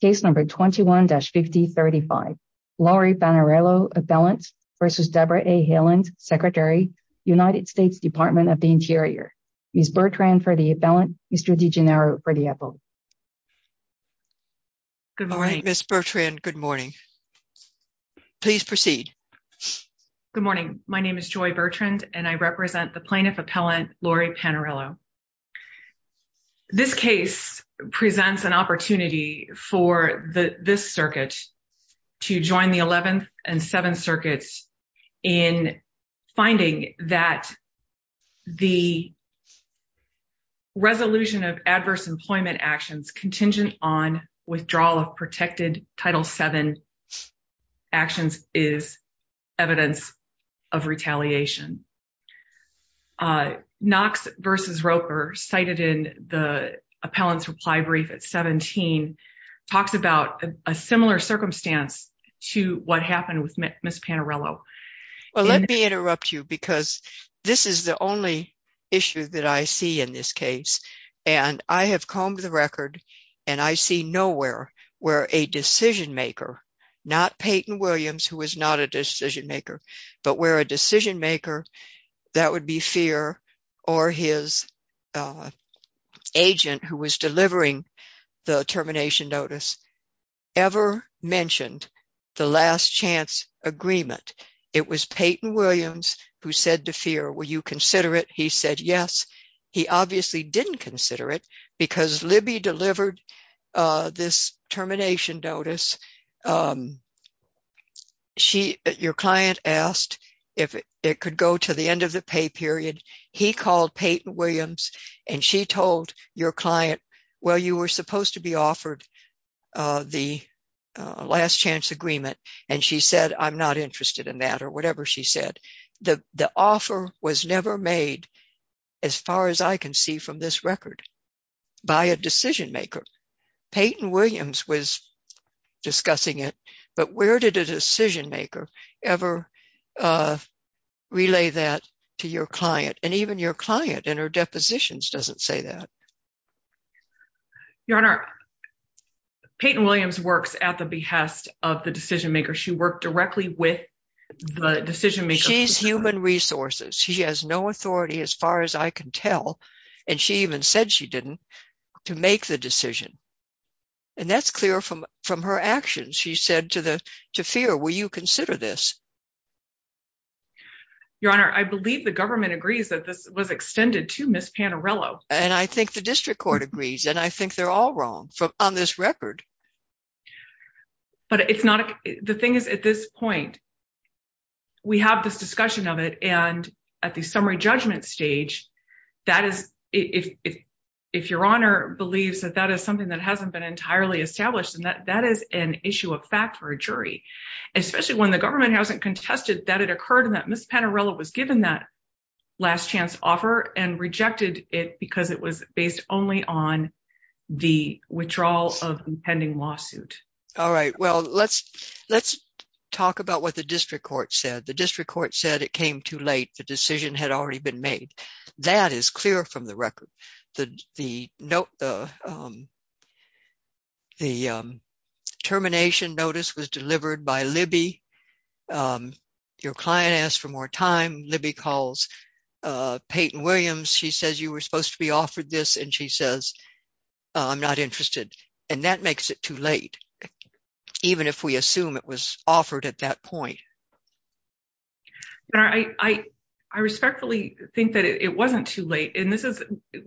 Case number 21-5035. Lori Panarello Appellant versus Debra A. Haaland, Secretary, United States Department of the Interior. Ms. Bertrand for the Appellant, Mr. DiGennaro for the Appellant. Good morning, Ms. Bertrand. Good morning. Please proceed. Good morning. My name is Joy Bertrand and I represent the Plaintiff Appellant Lori Panarello. This case presents an opportunity for this circuit to join the 11th and 7th circuits in finding that the resolution of adverse employment actions contingent on withdrawal of protected Title VII actions is evidence of retaliation. Knox v. Roper cited in the Appellant's reply brief at 17 talks about a similar circumstance to what happened with Ms. Panarello. Well, let me interrupt you because this is the only issue that I see in this case and I have combed the record and I see nowhere where a decision-maker, not Peyton Williams who was not a decision-maker, but where a decision-maker, that would be Feer or his agent who was delivering the termination notice, ever mentioned the last chance agreement. It was Peyton Williams who said to Feer, will you consider it? He said yes. He obviously didn't consider it because Libby delivered this termination notice. Your client asked if it could go to the end of the pay period. He called Peyton Williams and she told your client, well, you were supposed to be offered the last chance agreement and she said, I'm not interested in that or whatever she said. The offer was never made as far as I can see from this record by a decision-maker. Peyton Williams was discussing it, but where did a decision-maker ever relay that to your client? And even your client in her depositions doesn't say that. Your Honor, Peyton Williams works at the behest of the decision-maker. She worked directly with the decision-maker. She's human resources. She has no authority as far as I can tell, and she even said she didn't, to make the decision. And that's clear from her actions. She said to Feer, will you consider this? Your Honor, I believe the government agrees that this was extended to Ms. Panarello. And I think the district court agrees, and I think they're all wrong on this record. But it's not, the thing is at this point, we have this discussion of it and at the summary judgment stage, that is, if your Honor believes that that is something that hasn't been entirely established and that that is an issue of fact for a jury, especially when the government hasn't contested that it occurred and that Ms. Panarello was given that last chance offer and rejected it because it was based only on the withdrawal of the pending lawsuit. All right. Well, let's talk about what the district court said. The district court said it came too late. The decision had already been made. That is clear from the record. The termination notice was delivered by Libby. Your client asked for more time. Libby calls Peyton Williams. She says, you were supposed to be offered this. And she says, I'm not interested. And that makes it too late, even if we assume it was offered at that point. Your Honor, I respectfully think that it wasn't too late. And this is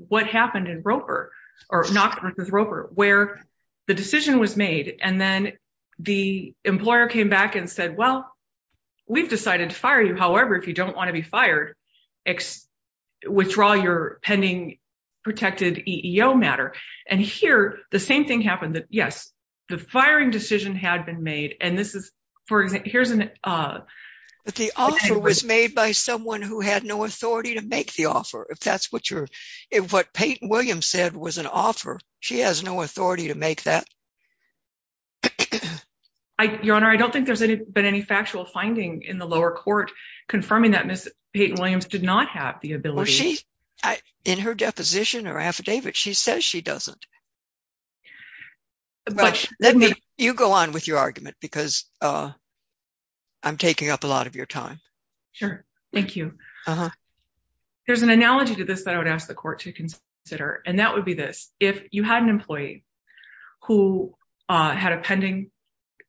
what happened in Roper, or Knox v. Roper, where the decision was made. And then the employer came back and said, well, we've decided to fire you. However, if you don't want to be fired, withdraw your pending protected EEO matter. And here, the same thing happened that, yes, the firing decision had been made. And this is, for example, here's an... But the offer was made by someone who had no authority to make the offer. If that's what Peyton Williams said was an offer, she has no authority to make that. Your Honor, I don't think there's been any factual finding in the lower court confirming that Ms. Peyton Williams did not have the ability. Well, she, in her deposition or affidavit, she says she doesn't. But let me... You go on with your argument, because I'm taking up a lot of your time. Sure. Thank you. There's an analogy to this that I would ask the court to consider, and that would be this. If you had an employee who had a pending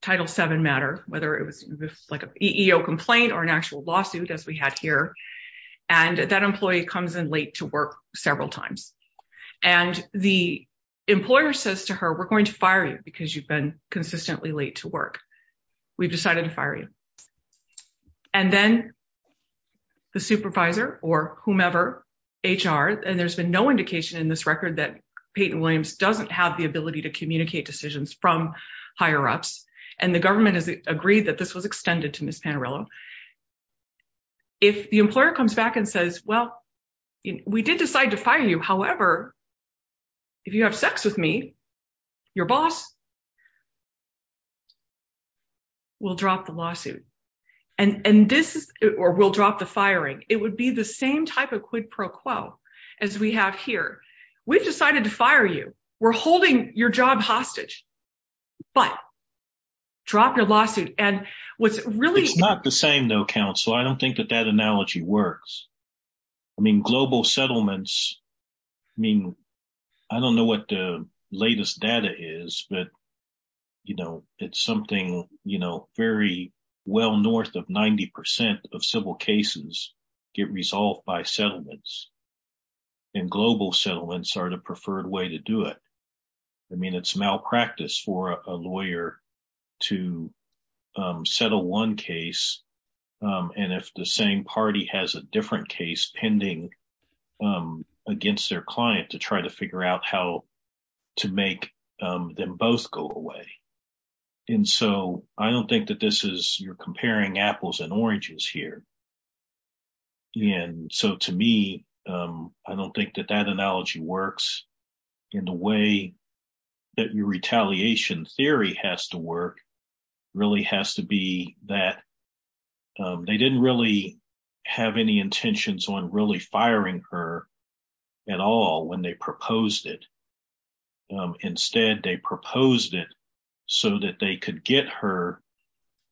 Title VII matter, whether it was like an EEO complaint or an actual lawsuit, as we had here, and that employee comes in late to work several times. And the employer says to her, we're going to fire you because you've been consistently late to work. We've decided to fire you. And then the supervisor or whomever, HR, and there's been no indication in this record that Peyton Williams doesn't have the ability to communicate decisions from higher-ups. And the government has agreed that this was extended to Ms. Panarello. If the employer comes back and says, well, we did decide to fire you. However, if you have sex with me, your boss will drop the lawsuit, or will drop the firing. It would be the same type of quid pro quo as we have here. We've decided to fire you. We're holding your job hostage, but drop your lawsuit. And what's really... It's not the same though, counsel. I don't think that that analogy works. I mean, global settlements, I mean, I don't know what the latest data is, but it's something very well north of 90% of civil cases get resolved by settlements. And global settlements are the preferred way to do it. I mean, it's malpractice for a lawyer to settle one case. And if the same party has a different case pending against their client to try to figure out how to make them both go away. And so I don't think that this is... You're comparing apples and oranges here. And so to me, I don't think that that analogy works. And the way that your retaliation theory has to work really has to be that they didn't really have any intentions on really firing her at all when they proposed it. Instead, they proposed it so that they could get her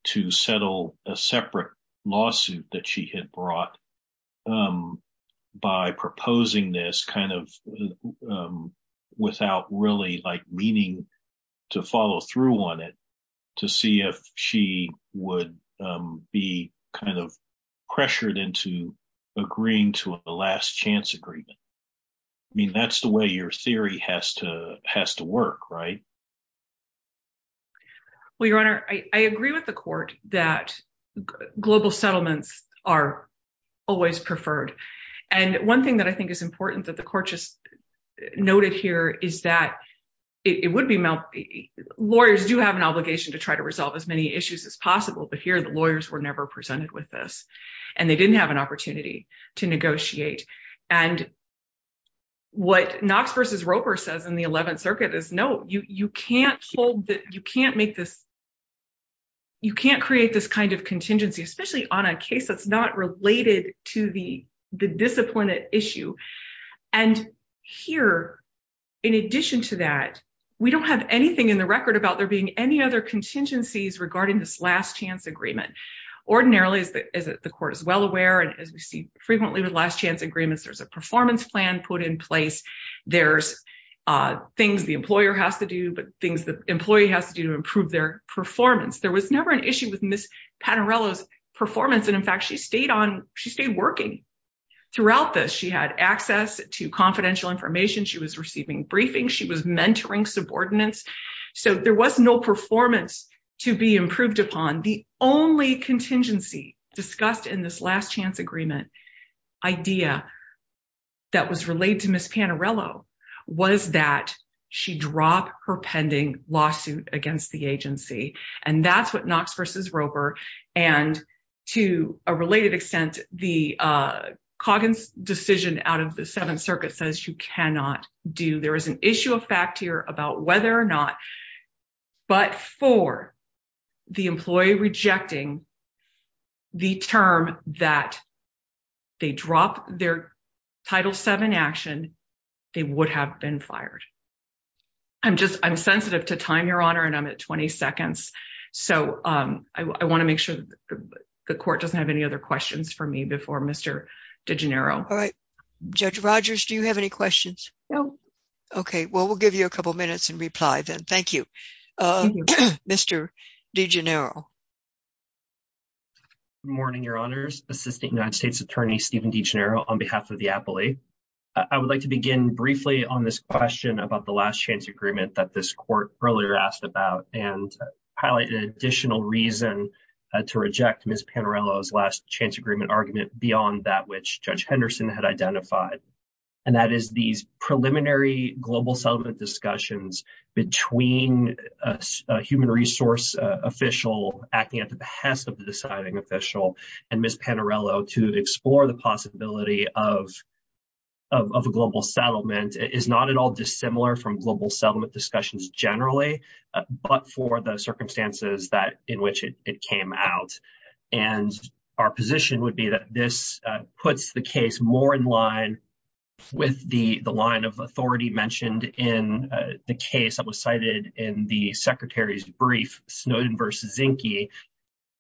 to settle a separate lawsuit that she had brought by proposing this kind of thing without really meaning to follow through on it to see if she would be pressured into agreeing to a last chance agreement. I mean, that's the way your theory has to work, right? Well, your honor, I agree with the court that global settlements are always preferred. And one thing that I think is important that the court just noted here is that lawyers do have an obligation to try to resolve as many issues as possible, but here the lawyers were never presented with this and they didn't have an opportunity to negotiate. And what Knox versus Roper says in the 11th circuit is, no, you can't create this kind of contingency, especially on a issue. And here, in addition to that, we don't have anything in the record about there being any other contingencies regarding this last chance agreement. Ordinarily, as the court is well aware, and as we see frequently with last chance agreements, there's a performance plan put in place. There's things the employer has to do, but things the employee has to do to improve their performance. There was never an issue with Ms. Panarello's performance. And in fact, she stayed working throughout this. She had access to confidential information. She was receiving briefings. She was mentoring subordinates. So there was no performance to be improved upon. The only contingency discussed in this last chance agreement idea that was related to Ms. Panarello was that she dropped her pending lawsuit against the agency. And that's what Knox versus Roper. And to a related extent, the Coggins decision out of the 7th circuit says you cannot do. There is an issue of fact here about whether or not, but for the employee rejecting the term that they drop their Title VII action, they would have been fired. I'm sensitive to time, Your Honor, and I'm at 20 seconds. So I want to make sure that the court doesn't have any other questions for me before Mr. DiGennaro. All right. Judge Rogers, do you have any questions? No. Okay. Well, we'll give you a couple of minutes and reply then. Thank you. Mr. DiGennaro. Good morning, Your Honors. Assistant United States Attorney Stephen DiGennaro on behalf of I would like to begin briefly on this question about the last chance agreement that this court earlier asked about and highlight an additional reason to reject Ms. Panarello's last chance agreement argument beyond that which Judge Henderson had identified. And that is these preliminary global settlement discussions between a human resource official acting at the behest of of a global settlement is not at all dissimilar from global settlement discussions generally, but for the circumstances that in which it came out. And our position would be that this puts the case more in line with the line of authority mentioned in the case that was cited in the Secretary's brief, Snowden v. Zinke,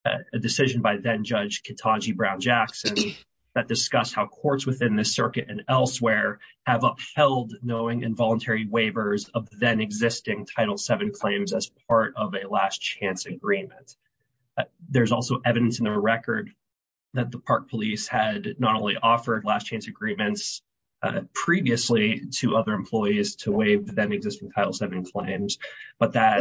a decision by then Judge Kitagi Brown-Jackson that discussed how courts within the circuit and elsewhere have upheld knowing involuntary waivers of then existing Title VII claims as part of a last chance agreement. There's also evidence in the record that the Park Police had not only offered last chance agreements previously to other employees to waive the then existing Title VII claims, but that...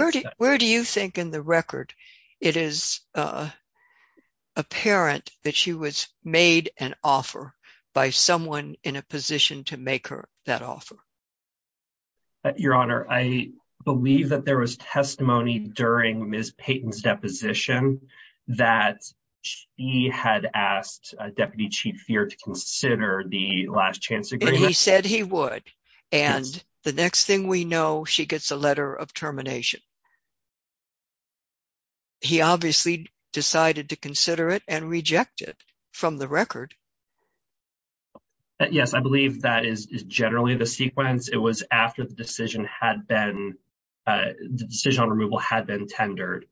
...made an offer by someone in a position to make her that offer. Your Honor, I believe that there was testimony during Ms. Payton's deposition that she had asked Deputy Chief Feer to consider the last chance agreement. He said he would. And the next thing we know, she gets a letter of termination. He obviously decided to consider it and reject it from the record. Yes, I believe that is generally the sequence. It was after the decision on removal had been tendered.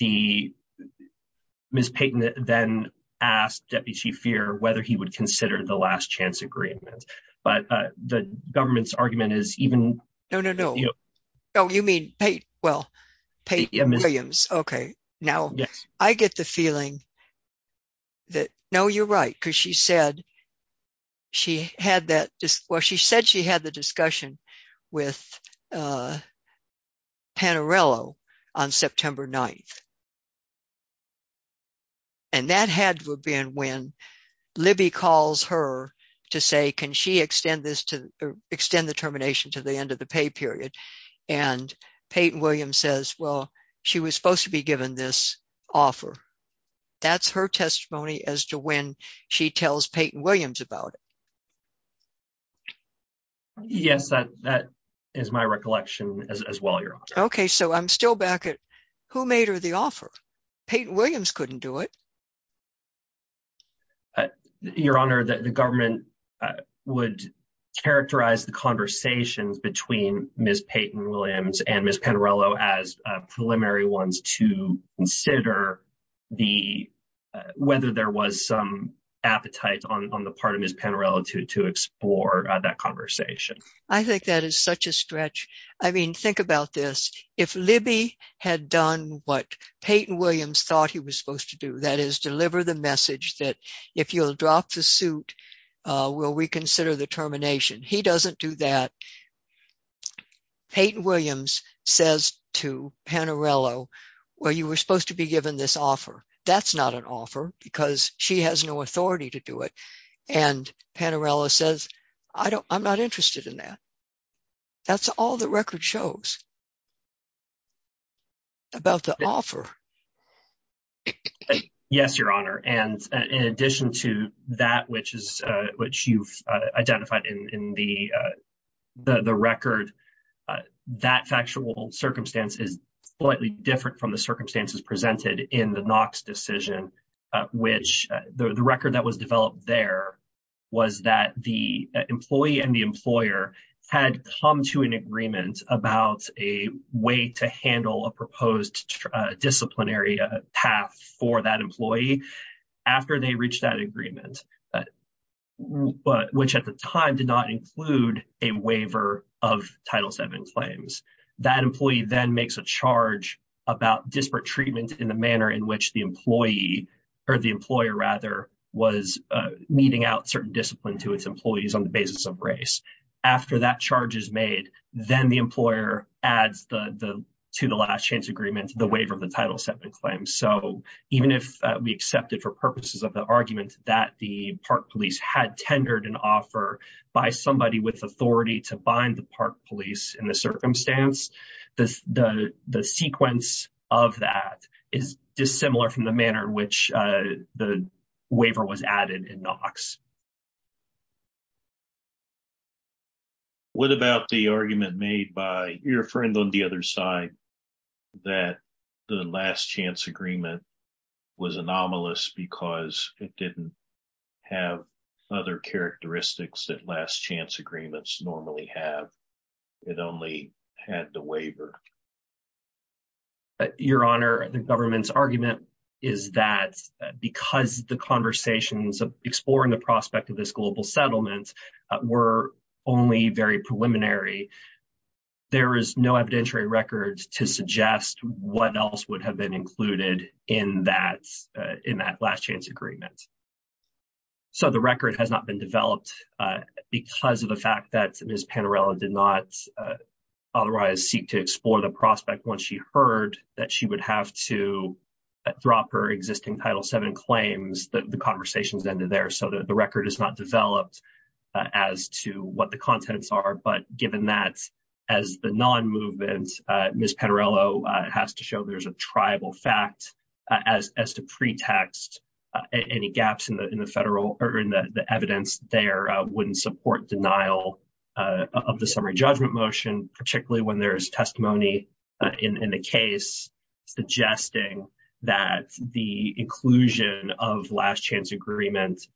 Ms. Payton then asked Deputy Chief Feer whether he would consider the last chance agreement. But the government's argument is even... Oh, you mean Payton? Well, Payton and Williams. Okay. Now, I get the feeling that... No, you're right. Because she said she had that... Well, she said she had the discussion with Panarello on September 9th. And that had been when Libby calls her to say, can she extend the termination to the end of the pay period? And Payton Williams says, well, she was supposed to be given this offer. That's her testimony as to when she tells Payton Williams about it. Yes, that is my recollection as well, Your Honor. Okay, so I'm still back at who made her the offer? Payton Williams couldn't do it. Your Honor, the government would characterize the conversations between Ms. Payton Williams and Ms. Panarello as preliminary ones to consider whether there was some appetite on the part of Ms. Panarello to explore that conversation. I think that is such a stretch. I mean, think about this. If Libby had done what Payton Williams thought he was supposed to do, that is deliver the message that if you'll drop the suit, we'll reconsider the termination. He doesn't do that. Payton Williams says to Panarello, well, you were supposed to be given this offer. That's not an offer because she has no authority to do it. And Panarello says, I'm not interested in that. That's all the record shows about the offer. Yes, Your Honor. And in addition to that, which you've identified in the record, that factual circumstance is slightly different from the circumstances presented in the Knox decision, which the record that was developed there was that the employee and the employer had come to an agreement about a way to handle a proposed disciplinary path for that employee after they reached that agreement, which at the time did not include a waiver of Title VII claims. That employee then makes a charge about disparate treatment in the manner in which the employee or the employer rather was meting out certain discipline to its employees on the basis of race. After that charge is made, then the employer adds to the last chance agreement, the waiver of the Title VII claims. So even if we accept it for purposes of the argument that the Park Police had tendered an offer by somebody with authority to bind the Park Police in the circumstance, the sequence of that is dissimilar from the manner in which the waiver was added in Knox. What about the argument made by your friend on the other side that the last chance agreement was anomalous because it didn't have other characteristics that last chance agreements normally have? It only had the waiver. Your Honor, the government's argument is that because the conversations of exploring the prospect of this global settlement were only very preliminary, there is no evidentiary records to suggest what else would have been included in that last chance agreement. So the record has not been developed because of the fact that Ms. Panarella did not otherwise seek to explore the prospect once she heard that she would have to drop her existing Title VII claims, the conversations ended there. So the record is not developed as to what the contents are. But given that, as the non-movement, Ms. Panarella has to show there's a triable fact as to pretext any gaps in the evidence there wouldn't support denial of the summary judgment motion, particularly when there's testimony in the case suggesting that the inclusion of last chance agreements,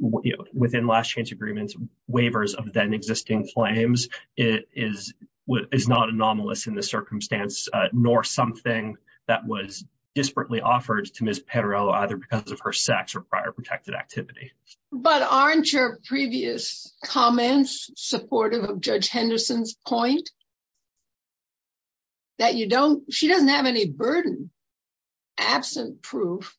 within last chance agreements, waivers of then existing claims is not anomalous in the circumstance, nor something that was desperately offered to Ms. Panarella either because of her sex or prior protected activity. But aren't your previous comments supportive of Judge Henderson's point that you don't, she doesn't have any burden absent proof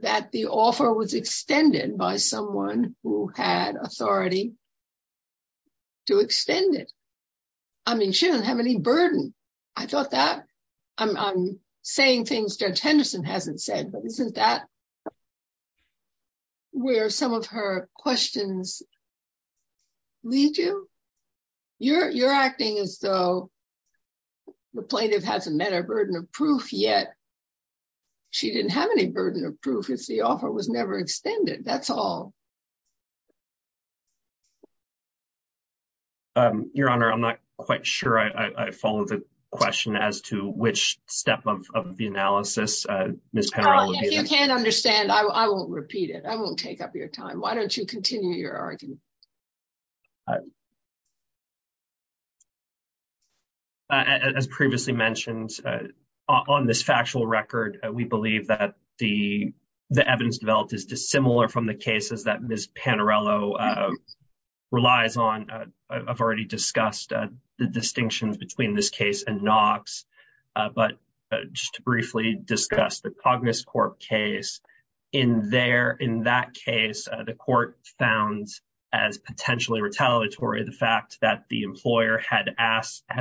that the offer was extended by someone who had authority to extend it. I mean, she doesn't have any burden. I thought that, I'm saying things Judge Henderson hasn't said, but isn't that where some of her questions lead you? You're acting as though the plaintiff hasn't met her burden of proof yet. She didn't have any burden of proof, it's the offer was never extended. That's all. Your Honor, I'm not quite sure I followed the question as to which step of the analysis, Ms. Panarella. If you can't understand, I won't repeat it. I won't take up your time. Why don't you continue your argument? As previously mentioned, on this factual record, we believe that the evidence developed is dissimilar from the cases that Ms. Panarella relies on. I've already discussed the distinctions between this case and Knox, but just to briefly discuss the Cognos Corp case. In that case, the court found as potentially retaliatory the fact that the employer had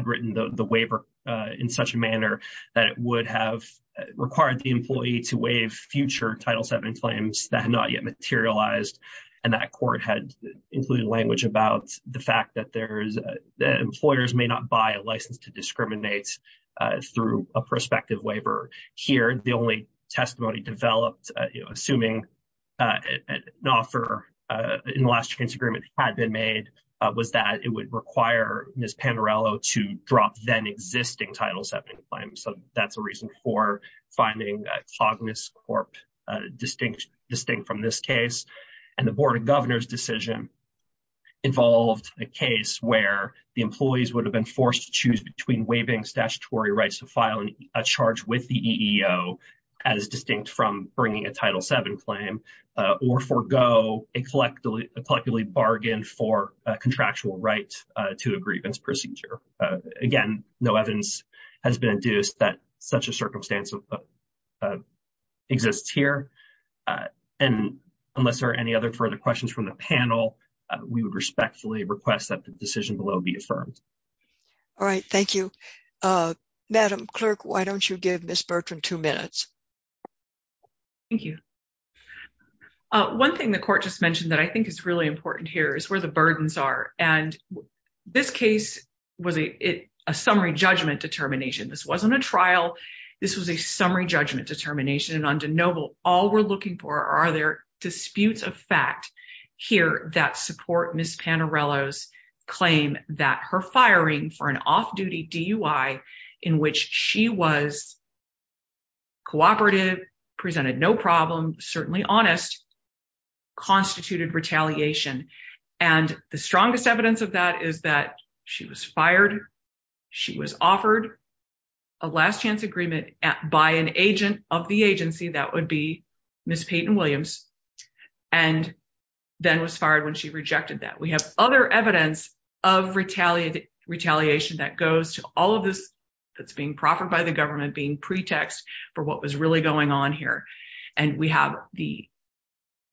written the waiver in such a manner that it would have required the employee to waive future Title VII claims that had not yet materialized, and that court had included language about the fact that employers may not buy a license to discriminate through a prospective waiver. Here, the only testimony developed, assuming an offer in the last transaction agreement had been made, was that it would require Ms. Panarella to drop then existing Title VII claims. That's a reason for finding Cognos Corp distinct from this case. The Board of Governors' decision involved a case where the employees would have been forced to choose between waiving statutory rights to file a charge with the EEO, as distinct from bringing a Title VII claim, or forego a collectively bargained for contractual right to a grievance procedure. Again, no evidence has been induced that such a circumstance exists here. And unless there are any other further questions from the panel, we would respectfully request that the decision below be affirmed. All right. Thank you. Madam Clerk, why don't you give Ms. Bertram two minutes? Thank you. One thing the court just mentioned that I think is really important here is where the burdens are. And this case was a summary judgment determination. This wasn't a trial. This was a summary judgment determination. And on DeNoble, all we're looking for are there an off-duty DUI in which she was cooperative, presented no problem, certainly honest, constituted retaliation. And the strongest evidence of that is that she was fired, she was offered a last chance agreement by an agent of the agency, that would be Ms. Peyton Williams, and then was fired when she rejected that. We have other evidence of retaliation that goes to all of this that's being proffered by the government being pretext for what was really going on here. And we have the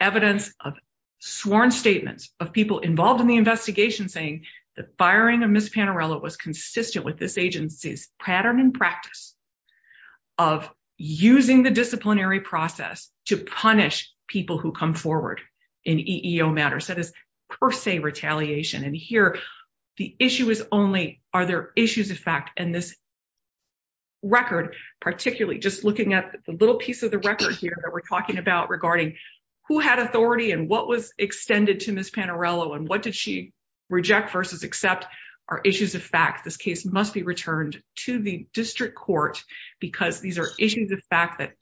evidence of sworn statements of people involved in the investigation saying the firing of Ms. Panarello was consistent with this agency's pattern and practice of using the disciplinary process to punish people who come forward in EEO matters. That is per se retaliation. And here, the issue is only are there issues of fact in this record, particularly just looking at the little piece of the record here that we're talking about regarding who had authority and what was extended to Ms. Panarello and what did she reject versus accept are issues of fact. This case must be returned to the district court because these are issues of fact that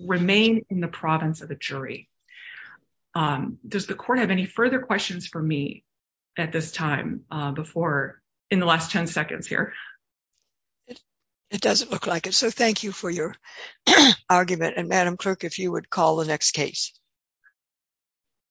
remain in the province of the jury. Does the court have any further questions for me at this time before in the last 10 seconds here? It doesn't look like it. So thank you for your argument. And Madam Clerk, if you would call the next case.